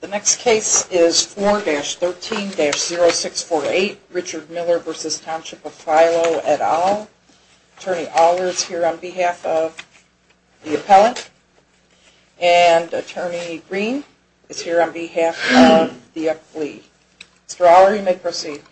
The next case is 4-13-0648 Richard Miller v. Township of Philo et al. Attorney Allard is here on behalf of the appellant and Attorney Green is here on behalf of the appellee. Mr. Allard you may proceed.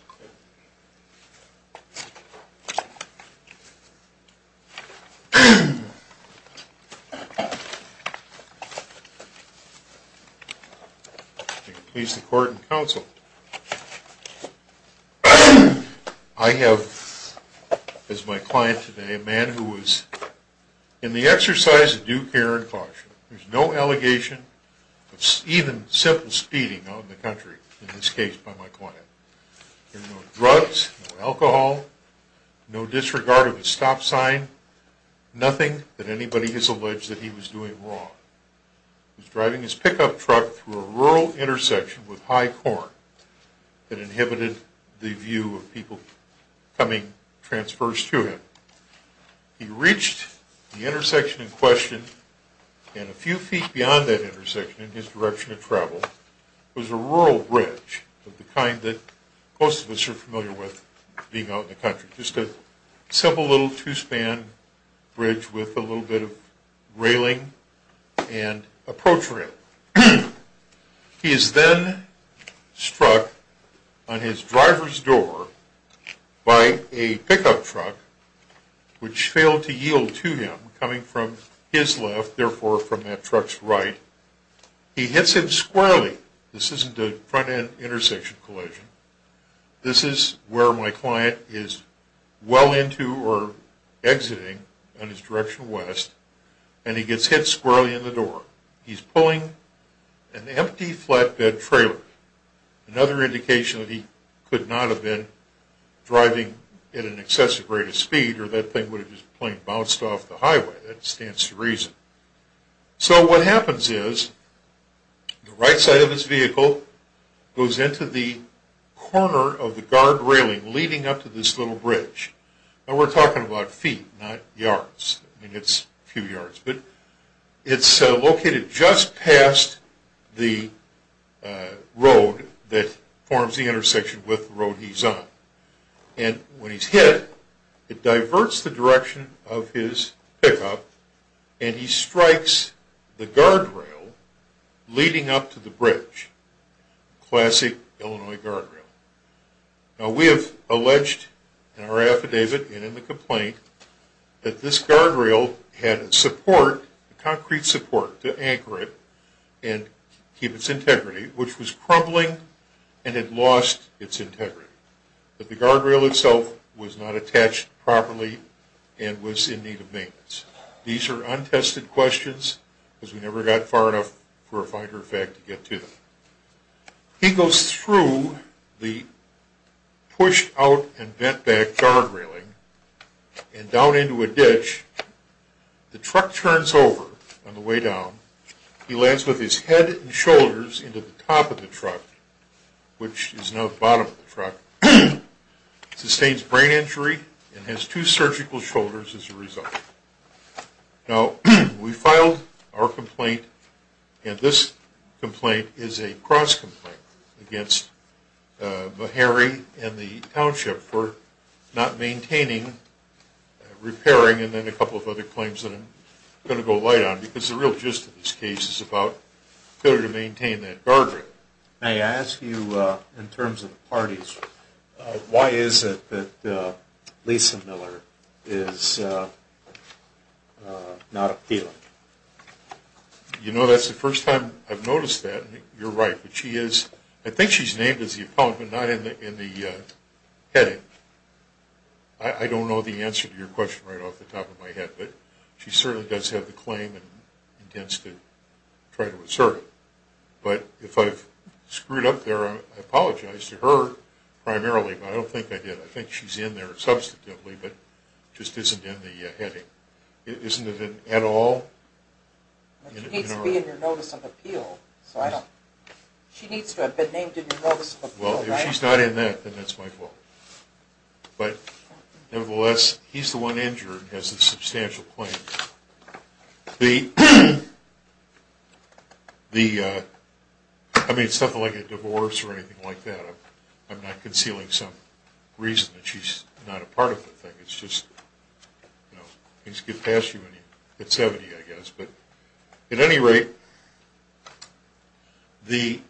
I have as my client today a man who is in the exercise of due care and caution. There is no allegation of even simple speeding out in the country in this case by my client. There are no drugs, no alcohol, no disregard of his stop sign, nothing that anybody has alleged that he was doing wrong. He was driving his pickup truck through a rural intersection with high corn that inhibited the view of people coming transverse to him. He reached the intersection in question and a few feet beyond that intersection in his direction of travel was a rural bridge of the kind that most of us are familiar with being out in the country. Just a simple little two span bridge with a little bit of railing and a protrail. He is then struck on his driver's door by a pickup truck which failed to yield to him coming from his left therefore from that truck's right. He hits him squarely. This isn't a front end intersection collision. This is where my client is well into or exiting in his direction west and he gets hit squarely in the door. He is pulling an empty flatbed trailer. Another indication that he could not have been driving at an excessive rate of speed or that thing would have just plain bounced off the highway. That stands to reason. So what happens is the right side of his vehicle goes into the corner of the guard railing leading up to this little bridge. We are talking about feet not yards. It is located just past the road that forms the intersection with the road he is on. When he is hit, it diverts the direction of his pickup and he strikes the guard rail leading up to the bridge. Classic Illinois guard rail. Now we have alleged in our affidavit and in the complaint that this guard rail had support, concrete support to anchor it and keep its integrity which was crumbling and had lost its integrity. But the guard rail itself was not attached properly and was in need of maintenance. These are untested questions because we never got far enough for a Finder fact to get to them. He goes through the pushed out and bent back guard railing and down into a ditch. The truck turns over on the way down. He lands with his head and shoulders into the top of the truck which is now the bottom of the truck. He sustains brain injury and has two surgical shoulders as a result. Now we filed our complaint and this complaint is a cross complaint against Meharry and the Township for not maintaining, repairing and then a couple of other claims that I am going to go light on because the real gist of this case is about failure to maintain that guard rail. May I ask you in terms of the parties, why is it that Lisa Miller is not appealing? You know that is the first time I have noticed that and you are right. I think she is named as the appellant but not in the heading. I don't know the answer to your question right off the top of my head but she certainly does have the claim and intends to try to assert it. But if I have screwed up there I apologize to her primarily but I don't think I did. I think she is in there substantively but just isn't in the heading. Isn't it at all? She needs to be in your notice of appeal. She needs to have been named in your notice of appeal. Well if she is not in that then that is my fault. But nevertheless he is the one injured and has a substantial claim. I mean it is nothing like a divorce or anything like that. I am not concealing some reason that she is not a part of the thing. It is just things get past you when you are 70 I guess. But at any rate the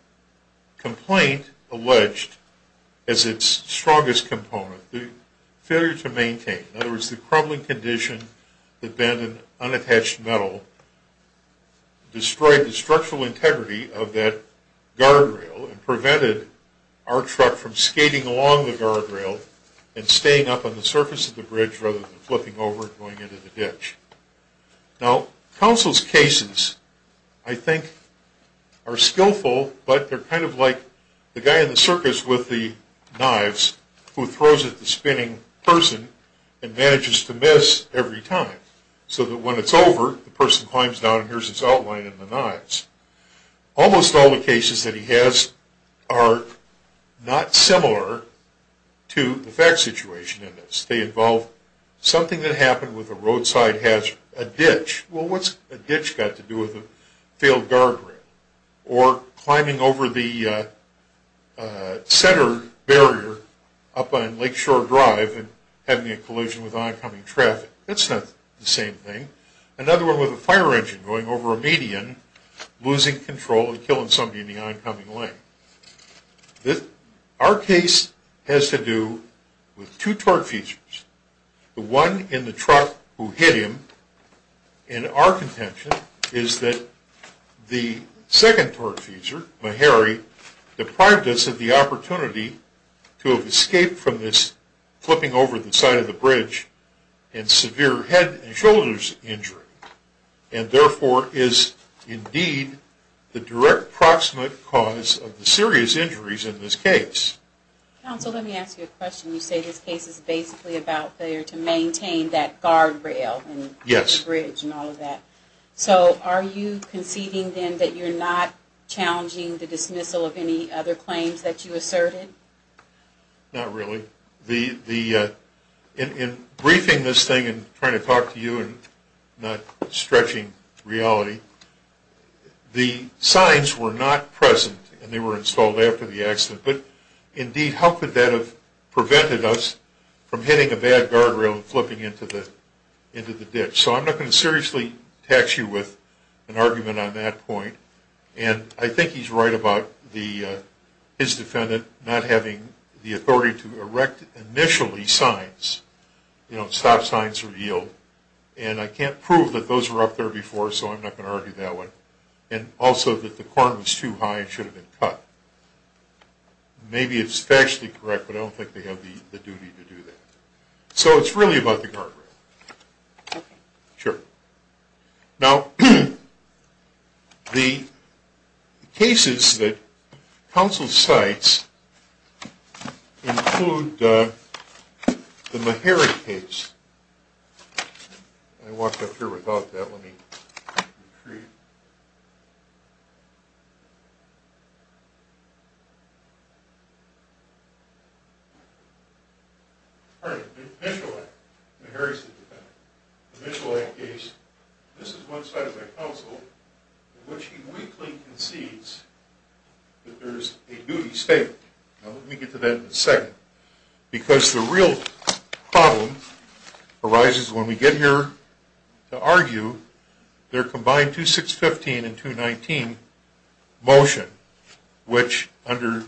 complaint alleged as its strongest component, the failure to maintain, in other words the crumbling condition that bended unattached metal destroyed the structural integrity of that guard rail and prevented our truck from skating along the guard rail and staying up on the surface of the bridge rather than flipping over and going into the ditch. Now counsel's cases I think are skillful but they are kind of like the guy in the circus with the knives who throws at the spinning person and manages to miss every time so that when it is over the person climbs down and hears his outline in the knives. Almost all the cases that he has are not similar to the fact situation in this. They involve something that happened with a roadside hazard, a ditch. Well what has a ditch got to do with a failed guard rail or climbing over the center barrier up on Lakeshore Drive and having a collision with oncoming traffic. That is not the same thing. Another one with a fire engine going over a median losing control and killing somebody in the oncoming lane. Our case has to do with two torque features. The one in the truck who hit him and our contention is that the second torque feature, Meharry, deprived us of the opportunity to escape from this flipping over the side of the bridge and severe head and shoulders injury. And therefore is indeed the direct proximate cause of the serious injuries in this case. Counsel let me ask you a question. You say this case is basically about failure to maintain that guard rail and bridge and all of that. So are you conceding then that you are not challenging the dismissal of any other claims that you asserted? Not really. In briefing this thing and trying to talk to you and not stretching reality, the signs were not present and they were installed after the accident. But indeed how could that have prevented us from hitting a bad guard rail and flipping into the ditch? So I'm not going to seriously tax you with an argument on that point. And I think he's right about his defendant not having the authority to erect initially signs, you know, stop signs or yield. And I can't prove that those were up there before so I'm not going to argue that one. And also that the corner was too high and should have been cut. Maybe it's factually correct but I don't think they have the duty to do that. So it's really about the guard rail. Sure. Now the cases that counsel cites include the Meharry case. I walked up here without that. Let me retrieve it. The Mitchell Act case, this is one side of the counsel in which he weakly concedes that there is a duty statement. Let me get to that in a second. Because the real problem arises when we get here to argue their combined 2615 and 219 motion, which under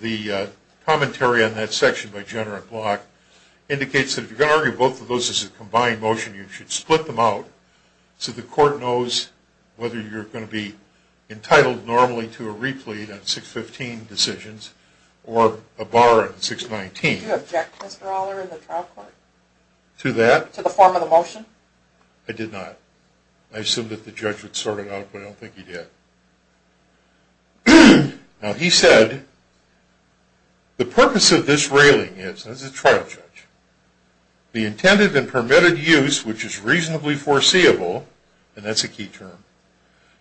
the commentary on that section by Jenner and Block, indicates that if you're going to argue both of those as a combined motion you should split them out so the court knows whether you're going to be entitled normally to a replete on 615 decisions or a bar on 619. Did you object, Mr. Aller, in the trial court? To that? To the form of the motion? I did not. I assumed that the judge would sort it out but I don't think he did. Now he said, the purpose of this railing is, and this is a trial judge, the intended and permitted use, which is reasonably foreseeable, and that's a key term,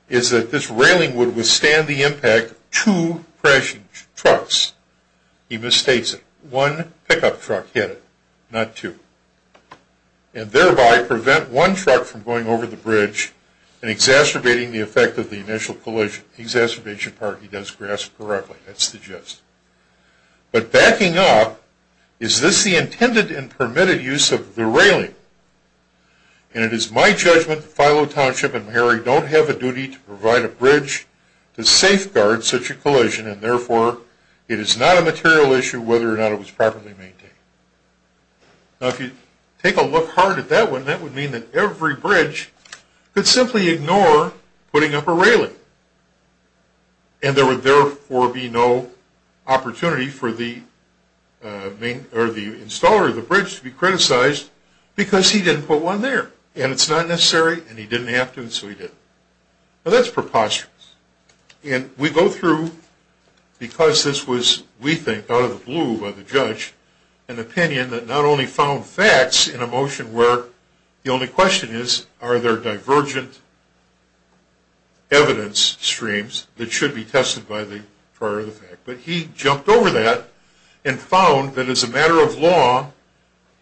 is that this railing would withstand the impact of two crashing trucks. He misstates it. One pickup truck hit it, not two. And thereby prevent one truck from going over the bridge and exacerbating the effect of the initial collision. The exacerbation part he does grasp correctly. That's the gist. But backing up, is this the intended and permitted use of the railing? And it is my judgment that Filo Township and Maharry don't have a duty to provide a bridge to safeguard such a collision and therefore it is not a material issue whether or not it was properly maintained. Now if you take a look hard at that one, that would mean that every bridge could simply ignore putting up a railing. And there would therefore be no opportunity for the installer of the bridge to be criticized because he didn't put one there. And it's not necessary, and he didn't have to, and so he didn't. Now that's preposterous. And we go through, because this was, we think, out of the blue by the judge, an opinion that not only found facts in a motion where the only question is, are there divergent evidence streams that should be tested prior to the fact. Now,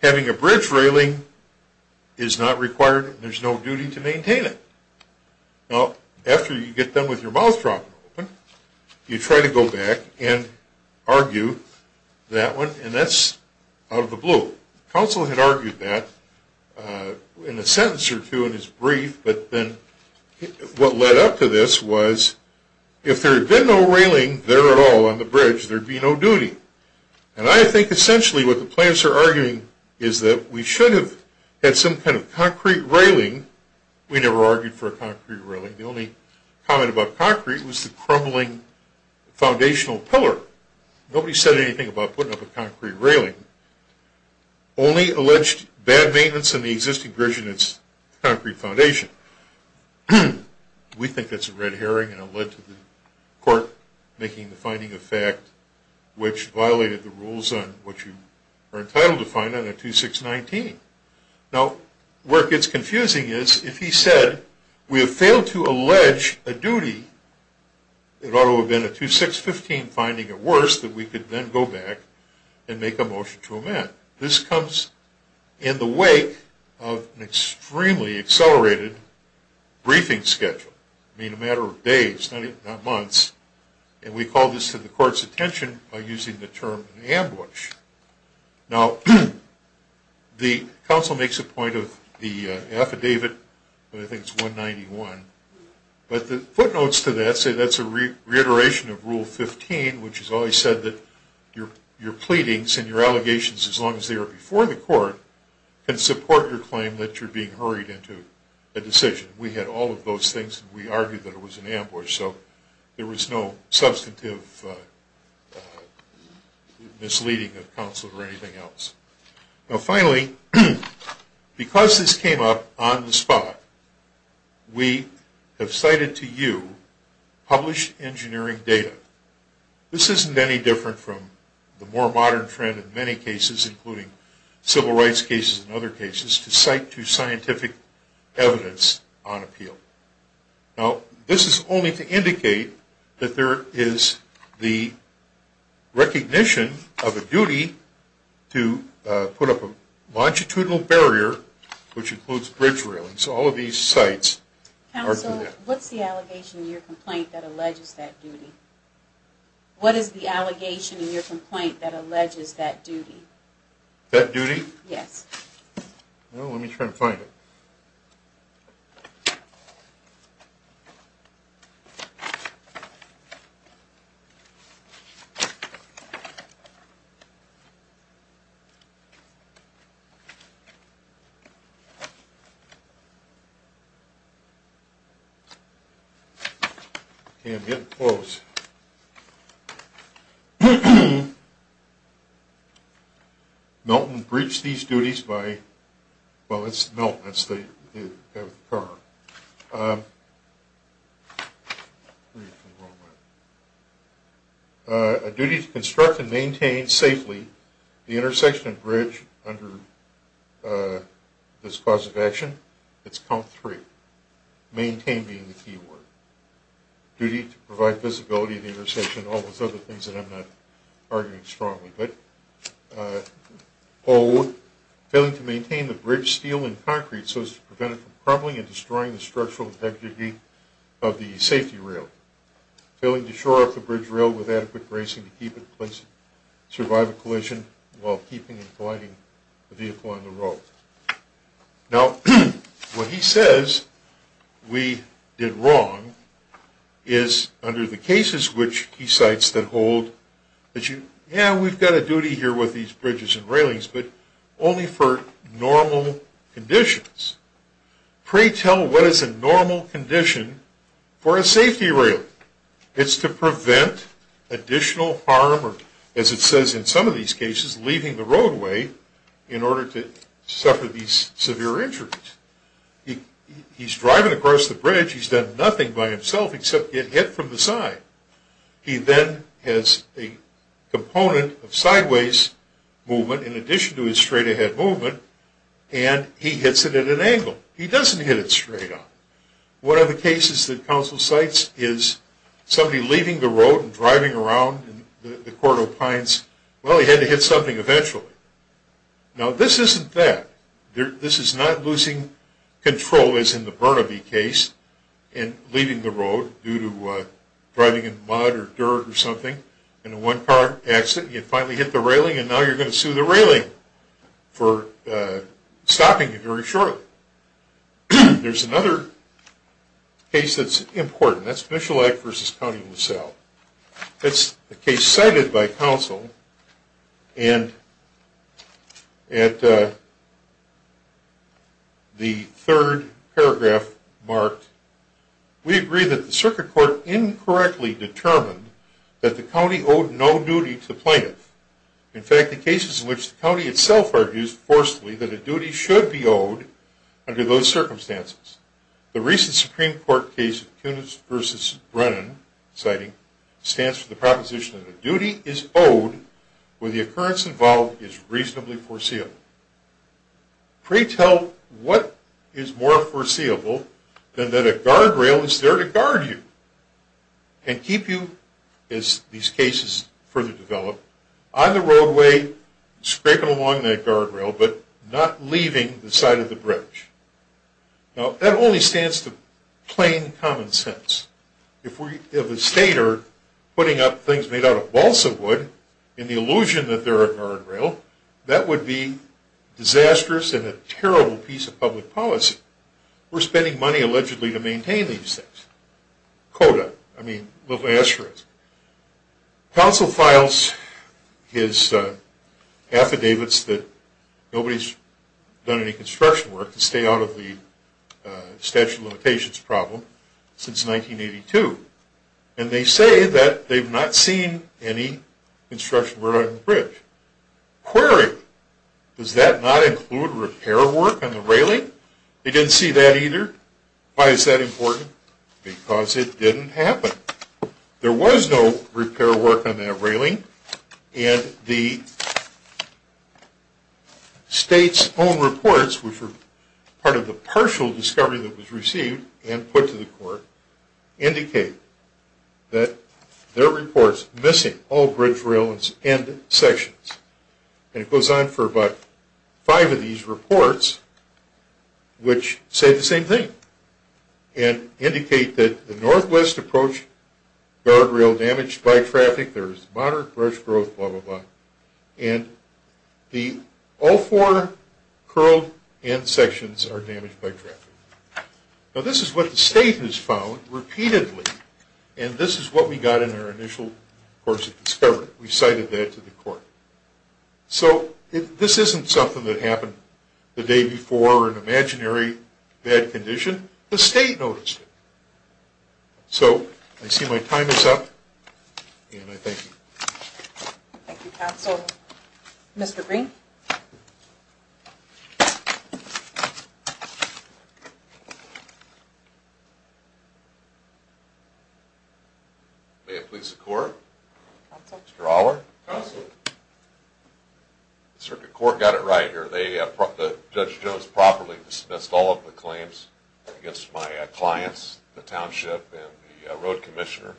having a bridge railing is not required, and there's no duty to maintain it. Now, after you get done with your mouth dropping open, you try to go back and argue that one, and that's out of the blue. Counsel had argued that in a sentence or two in his brief, but then what led up to this was, if there had been no railing there at all on the bridge, there'd be no duty. And I think essentially what the plaintiffs are arguing is that we should have had some kind of concrete railing. We never argued for a concrete railing. The only comment about concrete was the crumbling foundational pillar. Nobody said anything about putting up a concrete railing. Only alleged bad maintenance in the existing bridge and its concrete foundation. We think that's a red herring, and it led to the court making the finding of fact, which violated the rules on what you are entitled to find on a 2619. Now, where it gets confusing is, if he said, we have failed to allege a duty that ought to have been a 2615 finding at worst, that we could then go back and make a motion to amend. This comes in the wake of an extremely accelerated briefing schedule. I mean, a matter of days, not months. And we call this to the court's attention by using the term ambush. Now, the counsel makes a point of the affidavit, I think it's 191, but the footnotes to that say that's a reiteration of Rule 15, which has always said that your pleadings and your allegations, as long as they are before the court, can support your claim that you're being hurried into a decision. We had all of those things, and we argued that it was an ambush, so there was no substantive misleading of counsel or anything else. Now, finally, because this came up on the spot, we have cited to you published engineering data. This isn't any different from the more modern trend in many cases, including civil rights cases and other cases, to cite to scientific evidence on appeal. Now, this is only to indicate that there is the recognition of a duty to put up a longitudinal barrier, which includes bridge railings. All of these cites are through that. Counsel, what's the allegation in your complaint that alleges that duty? What is the allegation in your complaint that alleges that duty? That duty? Yes. Well, let me try to find it. I'm getting close. Milton breached these duties by – well, it's Milton. That's the guy with the car. A duty to construct and maintain safely the intersection and bridge under this cause of action. It's count three. Maintain being the key word. Duty to provide visibility of the intersection, all those other things that I'm not arguing strongly. But O, failing to maintain the bridge steel and concrete so as to prevent it from crumbling and destroying the structural integrity of the safety rail. Failing to shore up the bridge rail with adequate bracing to keep it in place and survive a collision while keeping and colliding the vehicle on the road. Now, what he says we did wrong is under the cases which he cites that hold that you – yeah, we've got a duty here with these bridges and railings, but only for normal conditions. Pretell what is a normal condition for a safety rail. It's to prevent additional harm or, as it says in some of these cases, leaving the roadway in order to suffer these severe injuries. He's driving across the bridge. He's done nothing by himself except get hit from the side. He then has a component of sideways movement in addition to his straight-ahead movement, and he hits it at an angle. He doesn't hit it straight on. One of the cases that counsel cites is somebody leaving the road and driving around the Corridor of Pines. Well, he had to hit something eventually. Now, this isn't that. This is not losing control as in the Burnaby case and leaving the road due to driving in mud or dirt or something in a one-car accident. You finally hit the railing, and now you're going to sue the railing for stopping you very shortly. There's another case that's important. That's Michellac v. County of LaSalle. That's a case cited by counsel and at the third paragraph marked, we agree that the circuit court incorrectly determined that the county owed no duty to the plaintiff. In fact, the cases in which the county itself argues forcefully that a duty should be owed under those circumstances. The recent Supreme Court case of Kunitz v. Brennan, citing, stands for the proposition that a duty is owed where the occurrence involved is reasonably foreseeable. Pretell what is more foreseeable than that a guardrail is there to guard you and keep you, as these cases further develop, on the roadway scraping along that guardrail but not leaving the side of the bridge. Now, that only stands to plain common sense. If a state are putting up things made out of balsa wood in the illusion that they're a guardrail, that would be disastrous and a terrible piece of public policy. We're spending money, allegedly, to maintain these things. CODA. I mean, look what the answer is. Counsel files his affidavits that nobody's done any construction work to stay out of the statute of limitations problem since 1982, and they say that they've not seen any construction work on the bridge. Query. Does that not include repair work on the railing? They didn't see that either. Why is that important? Because it didn't happen. There was no repair work on that railing, and the state's own reports, which were part of the partial discovery that was received and put to the court, indicate that there are reports missing all bridge railings and sections. And it goes on for about five of these reports, which say the same thing and indicate that the Northwest approached guardrail damaged by traffic. There is moderate bridge growth, blah, blah, blah, and all four curled end sections are damaged by traffic. Now, this is what the state has found repeatedly, and this is what we got in our initial course of discovery. We cited that to the court. So this isn't something that happened the day before or an imaginary bad condition. The state noticed it. So I see my time is up, and I thank you. Thank you, counsel. Mr. Green? May it please the court? Mr. Allard? Circuit court got it right here. Judge Jones properly dismissed all of the claims against my clients, the township and the road commissioner.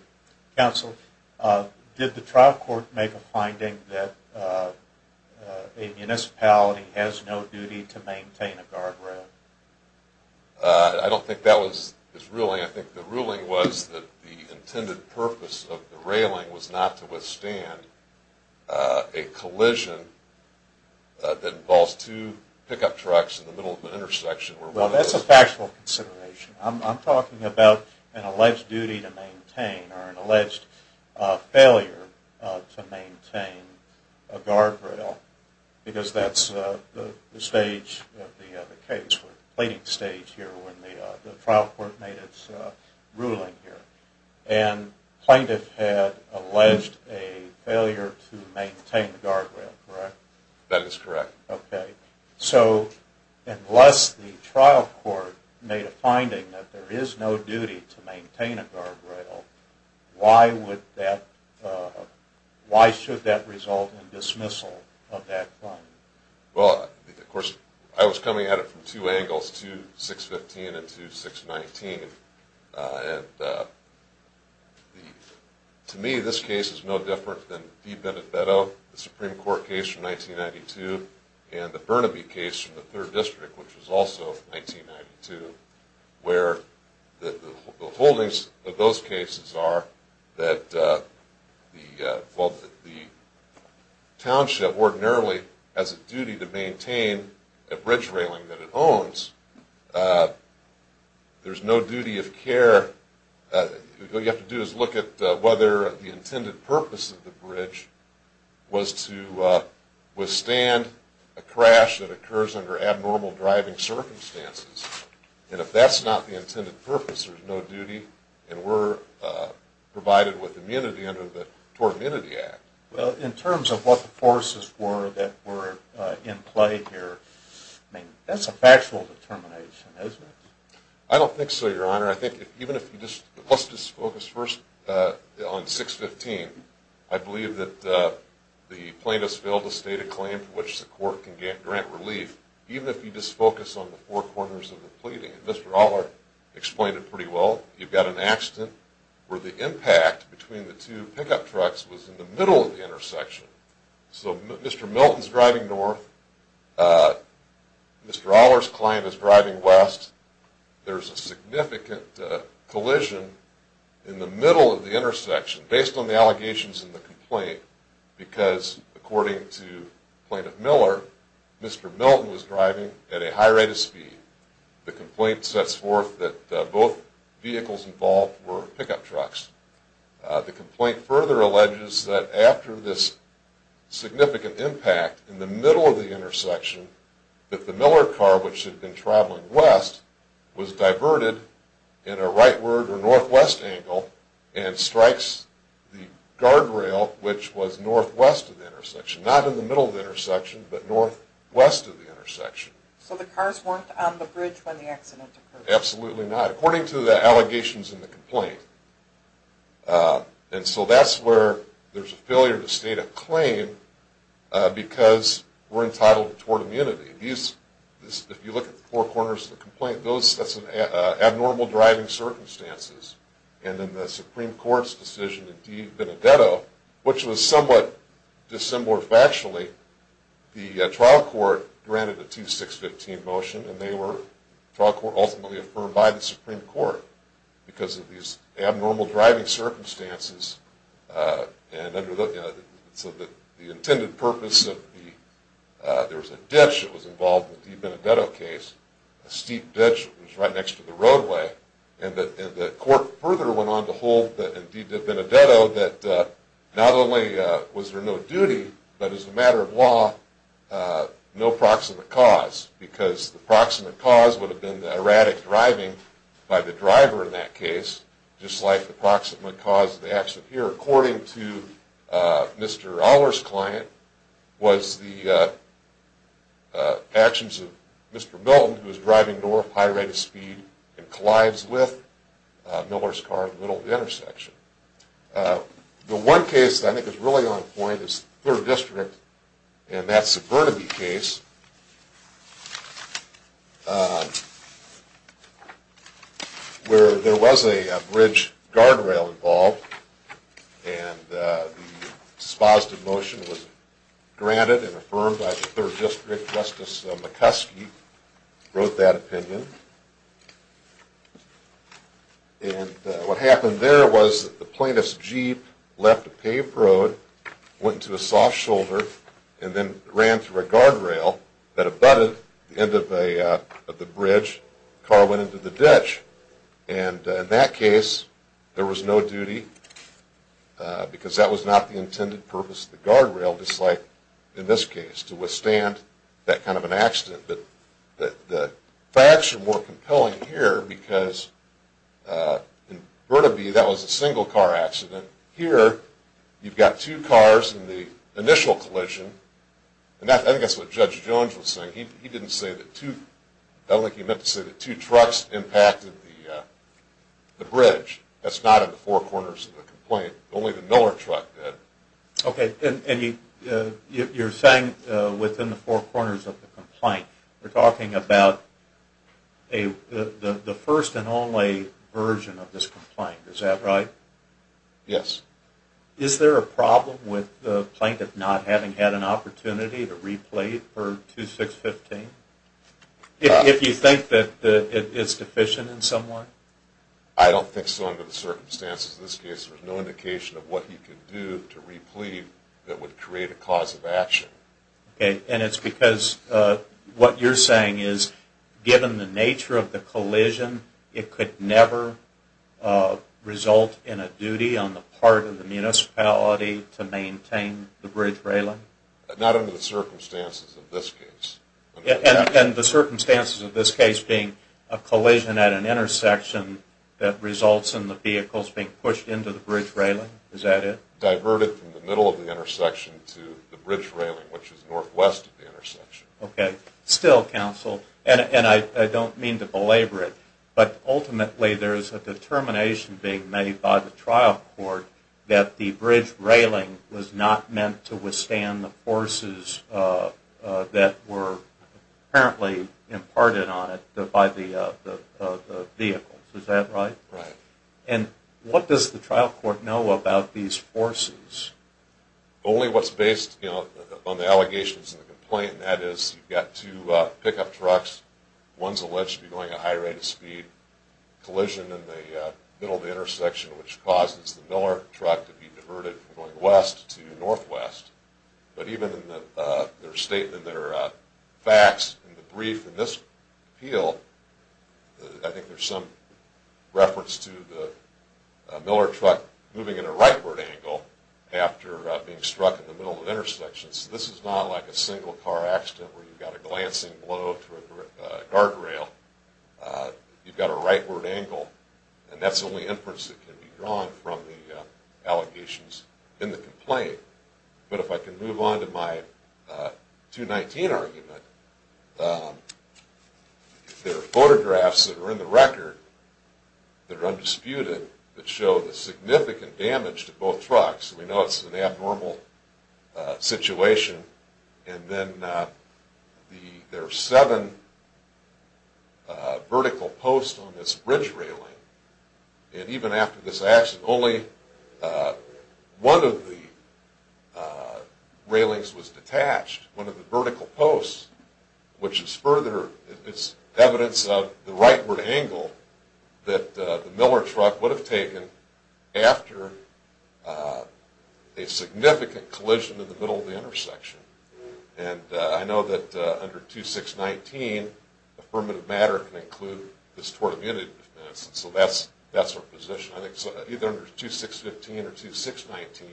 Counsel, did the trial court make a finding that a municipality has no duty to maintain a guardrail? I don't think that was its ruling. I think the ruling was that the intended purpose of the railing was not to withstand a collision that involves two pickup trucks in the middle of an intersection. Well, that's a factual consideration. I'm talking about an alleged duty to maintain or an alleged failure to maintain a guardrail because that's the stage of the case, the plating stage here, when the trial court made its ruling here. And plaintiff had alleged a failure to maintain the guardrail, correct? That is correct. So, unless the trial court made a finding that there is no duty to maintain a guardrail, why should that result in dismissal of that claim? Well, of course, I was coming at it from two angles, 2-615 and 2-619. And to me, this case is no different than the DeBenefetto, the Supreme Court case from 1992, and the Burnaby case from the 3rd District, which was also from 1992, where the holdings of those cases are that the township ordinarily has a duty to maintain a bridge railing that it owns. There's no duty of care. All you have to do is look at whether the intended purpose of the bridge was to withstand a crash that occurs under abnormal driving circumstances. And if that's not the intended purpose, there's no duty, and we're provided with immunity under the Tort Immunity Act. Well, in terms of what the forces were that were in play here, I mean, that's a factual determination, isn't it? I don't think so, Your Honor. I think even if you just, let's just focus first on 615. I believe that the plaintiffs failed to state a claim for which the court can grant relief, even if you just focus on the four corners of the pleading. And Mr. Allert explained it pretty well. You've got an accident where the impact between the two pickup trucks was in the middle of the intersection. So Mr. Milton's driving north. Mr. Allert's client is driving west. There's a significant collision in the middle of the intersection, based on the allegations in the complaint, because, according to Plaintiff Miller, Mr. Milton was driving at a high rate of speed. The complaint sets forth that both vehicles involved were pickup trucks. The complaint further alleges that after this significant impact in the middle of the intersection, that the Miller car, which had been traveling west, was diverted in a rightward or northwest angle and strikes the guardrail, which was northwest of the intersection. Not in the middle of the intersection, but northwest of the intersection. So the cars weren't on the bridge when the accident occurred? Absolutely not, according to the allegations in the complaint. And so that's where there's a failure to state a claim, because we're entitled toward immunity. If you look at the four corners of the complaint, that's abnormal driving circumstances. And in the Supreme Court's decision in DiVenedetto, which was somewhat dissembled factually, the trial court granted a 2-6-15 motion, and they were ultimately affirmed by the Supreme Court, because of these abnormal driving circumstances. So the intended purpose of the—there was a ditch that was involved in the DiVenedetto case, a steep ditch that was right next to the roadway, and the court further went on to hold in DiVenedetto that not only was there no duty, but as a matter of law, no proximate cause, because the proximate cause would have been the erratic driving by the driver in that case, just like the proximate cause of the accident here, according to Mr. Aller's client, was the actions of Mr. Milton, who was driving north at a high rate of speed and collides with Miller's car in the middle of the intersection. The one case that I think is really on point is Third District in that Suburnaby case, where there was a bridge guardrail involved, and the expositive motion was granted and affirmed by the Third District. Justice McCuskey wrote that opinion. And what happened there was that the plaintiff's Jeep left a paved road, went into a soft shoulder, and then ran through a guardrail that abutted the end of the bridge. The car went into the ditch. And in that case, there was no duty, because that was not the intended purpose of the guardrail, just like in this case, to withstand that kind of an accident. The facts are more compelling here, because in Burnaby, that was a single-car accident. Here, you've got two cars in the initial collision. And I think that's what Judge Jones was saying. He didn't say that two – I don't think he meant to say that two trucks impacted the bridge. That's not in the four corners of the complaint. Only the Miller truck did. Okay, and you're saying within the four corners of the complaint. You're talking about the first and only version of this complaint. Is that right? Yes. Is there a problem with the plaintiff not having had an opportunity to replay it for 2615? If you think that it's deficient in some way? I don't think so under the circumstances of this case. There's no indication of what he could do to replay that would create a cause of action. Okay, and it's because what you're saying is, given the nature of the collision, it could never result in a duty on the part of the municipality to maintain the bridge railing? Not under the circumstances of this case. And the circumstances of this case being a collision at an intersection that results in the vehicles being pushed into the bridge railing? Is that it? Diverted from the middle of the intersection to the bridge railing, which is northwest of the intersection. Okay. Still counsel, and I don't mean to belabor it, but ultimately there's a determination being made by the trial court that the bridge railing was not meant to withstand the forces that were apparently imparted on it by the vehicles. Is that right? Right. And what does the trial court know about these forces? Only what's based on the allegations and the complaint, and that is you've got two pickup trucks. One's alleged to be going at a high rate of speed. Collision in the middle of the intersection, which causes the Miller truck to be diverted from going west to northwest. But even in their facts in the brief in this appeal, I think there's some reference to the Miller truck moving at a rightward angle after being struck in the middle of the intersection. So this is not like a single car accident where you've got a glancing blow to a guard rail. You've got a rightward angle, and that's the only inference that can be drawn from the allegations in the complaint. But if I can move on to my 219 argument, there are photographs that are in the record that are undisputed that show the significant damage to both trucks. We know it's an abnormal situation. And then there are seven vertical posts on this bridge railing. And even after this accident, only one of the railings was detached, one of the vertical posts, which is further evidence of the rightward angle that the Miller truck would have taken after a significant collision in the middle of the intersection. And I know that under 2619, affirmative matter can include this tort immunity defense. So that's our position. I think either under 2615 or 2619,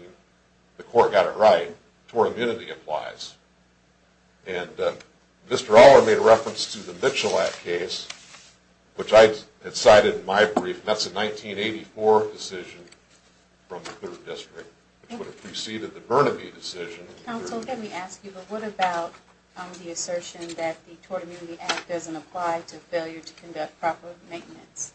the court got it right. Tort immunity applies. And Mr. Aller made a reference to the Mitchell Act case, which I had cited in my brief. That's a 1984 decision from the 3rd District, which would have preceded the Burnaby decision. Counsel, let me ask you, but what about the assertion that the Tort Immunity Act doesn't apply to failure to conduct proper maintenance?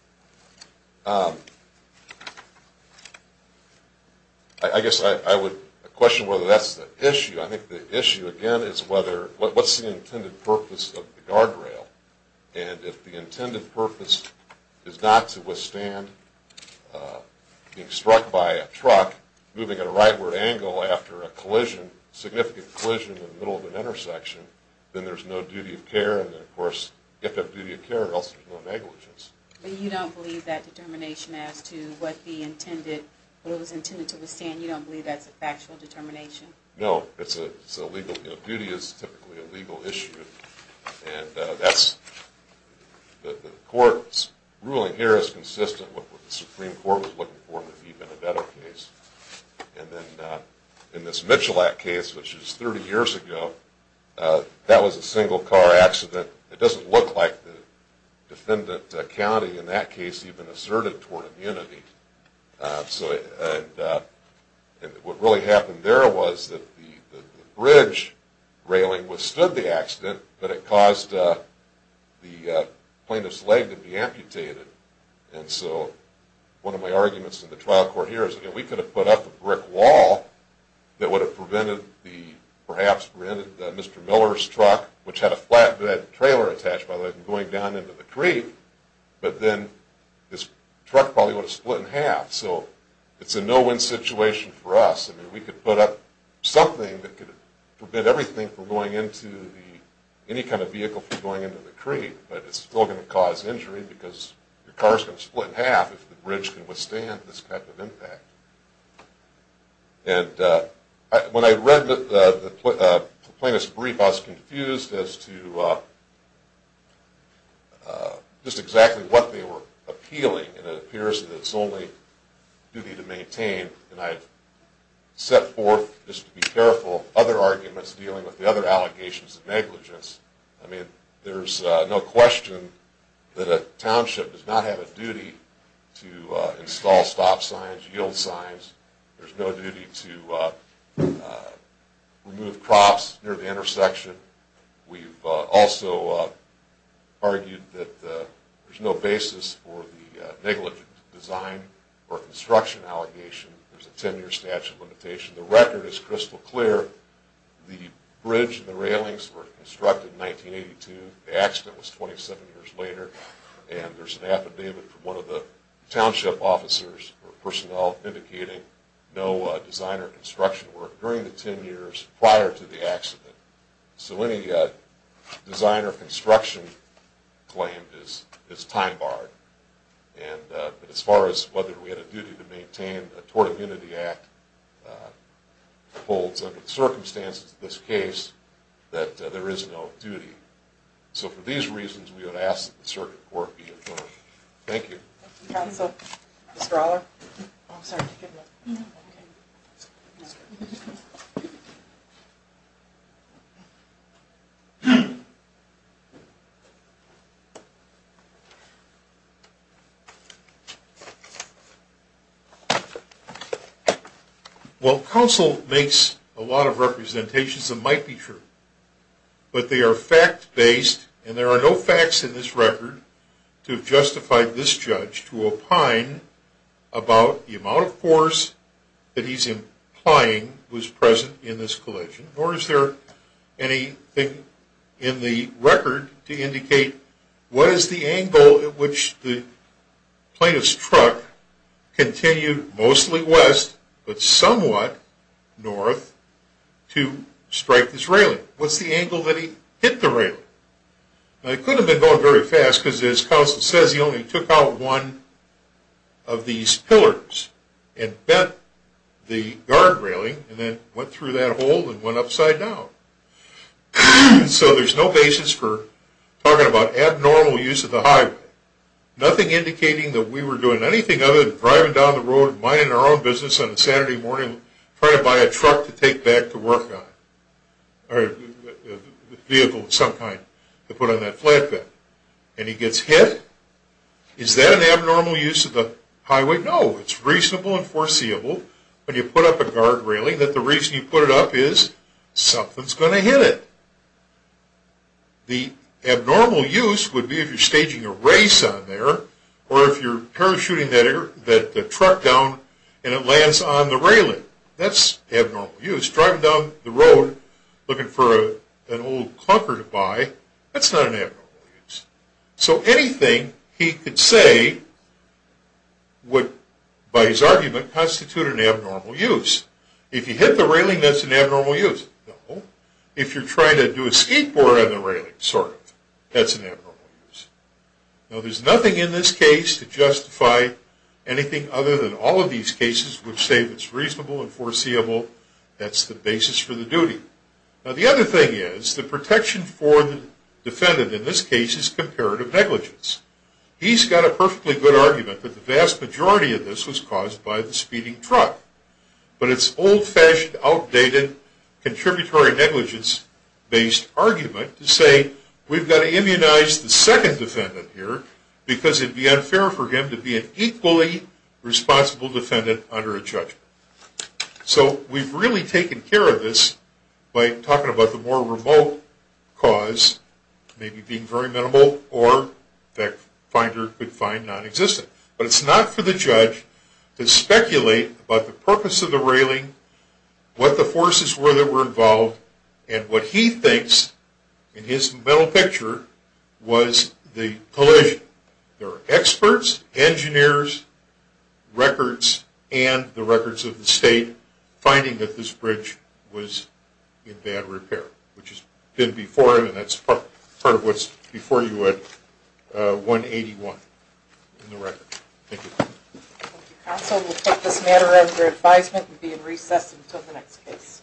I guess I would question whether that's the issue. I think the issue, again, is what's the intended purpose of the guardrail. And if the intended purpose is not to withstand being struck by a truck moving at a rightward angle after a significant collision in the middle of an intersection, then there's no duty of care. And then, of course, if there's duty of care, there's no negligence. But you don't believe that determination as to what it was intended to withstand, you don't believe that's a factual determination? No. Duty is typically a legal issue. And the court's ruling here is consistent with what the Supreme Court was looking for to be even a better case. And then in this Mitchell Act case, which is 30 years ago, that was a single-car accident. It doesn't look like the defendant, the county in that case, even asserted Tort Immunity. And what really happened there was that the bridge railing withstood the accident, but it caused the plaintiff's leg to be amputated. And so one of my arguments in the trial court here is, again, we could have put up a brick wall that would have perhaps prevented Mr. Miller's truck, which had a flatbed trailer attached by the way, going down into the creek, but then his truck probably would have split in half. So it's a no-win situation for us. I mean, we could put up something that could prevent everything from going into the, any kind of vehicle from going into the creek, but it's still going to cause injury because the car's going to split in half if the bridge can withstand this type of impact. And when I read the plaintiff's brief, I was confused as to just exactly what they were appealing. And it appears that it's only duty to maintain. And I've set forth, just to be careful, other arguments dealing with the other allegations of negligence. I mean, there's no question that a township does not have a duty to install stop signs, yield signs. There's no duty to remove crops near the intersection. We've also argued that there's no basis for the negligent design or construction allegation. There's a 10-year statute limitation. The record is crystal clear. The bridge and the railings were constructed in 1982. The accident was 27 years later. And there's an affidavit from one of the township officers or personnel indicating no design or construction work during the 10 years prior to the accident. So any design or construction claim is time-barred. And as far as whether we had a duty to maintain, the Tort Immunity Act holds under the circumstances of this case that there is no duty. So for these reasons, we would ask that the Circuit Court be adjourned. Thank you. Counsel? Mr. Aller? I'm sorry. Well, counsel makes a lot of representations that might be true. But they are fact-based. And there are no facts in this record to justify this judge to opine about the amount of force that he's implying was present in this collision. Nor is there anything in the record to indicate what is the angle at which the plaintiff's truck continued mostly west but somewhat north to strike this railing. What's the angle that he hit the railing? It could have been going very fast because, as counsel says, he only took out one of these pillars and bent the guard railing and then went through that hole and went upside down. So there's no basis for talking about abnormal use of the highway. Nothing indicating that we were doing anything other than driving down the road and minding our own business on a Saturday morning trying to buy a truck to take back to work on it or a vehicle of some kind to put on that flatbed. And he gets hit? Is that an abnormal use of the highway? No. It's reasonable and foreseeable when you put up a guard railing that the reason you put it up is something's going to hit it. The abnormal use would be if you're staging a race on there or if you're parachuting the truck down and it lands on the railing. That's abnormal use. Driving down the road looking for an old clunker to buy, that's not an abnormal use. So anything he could say would, by his argument, constitute an abnormal use. If you hit the railing, that's an abnormal use. No. If you're trying to do a skateboard on the railing, sort of, that's an abnormal use. Now, there's nothing in this case to justify anything other than all of these cases which say it's reasonable and foreseeable. That's the basis for the duty. Now, the other thing is the protection for the defendant in this case is comparative negligence. He's got a perfectly good argument that the vast majority of this was caused by the speeding truck, but it's an old-fashioned, outdated, contributory negligence-based argument to say, we've got to immunize the second defendant here because it would be unfair for him to be an equally responsible defendant under a judge. So we've really taken care of this by talking about the more remote cause, maybe being very minimal or that finder could find non-existent. But it's not for the judge to speculate about the purpose of the railing, what the forces were that were involved, and what he thinks in his mental picture was the collision. There are experts, engineers, records, and the records of the state finding that this bridge was in bad repair, which it did before, and that's part of what's before you at 181 in the record. Thank you. Thank you, counsel. We'll take this matter under advisement and be in recess until the next case.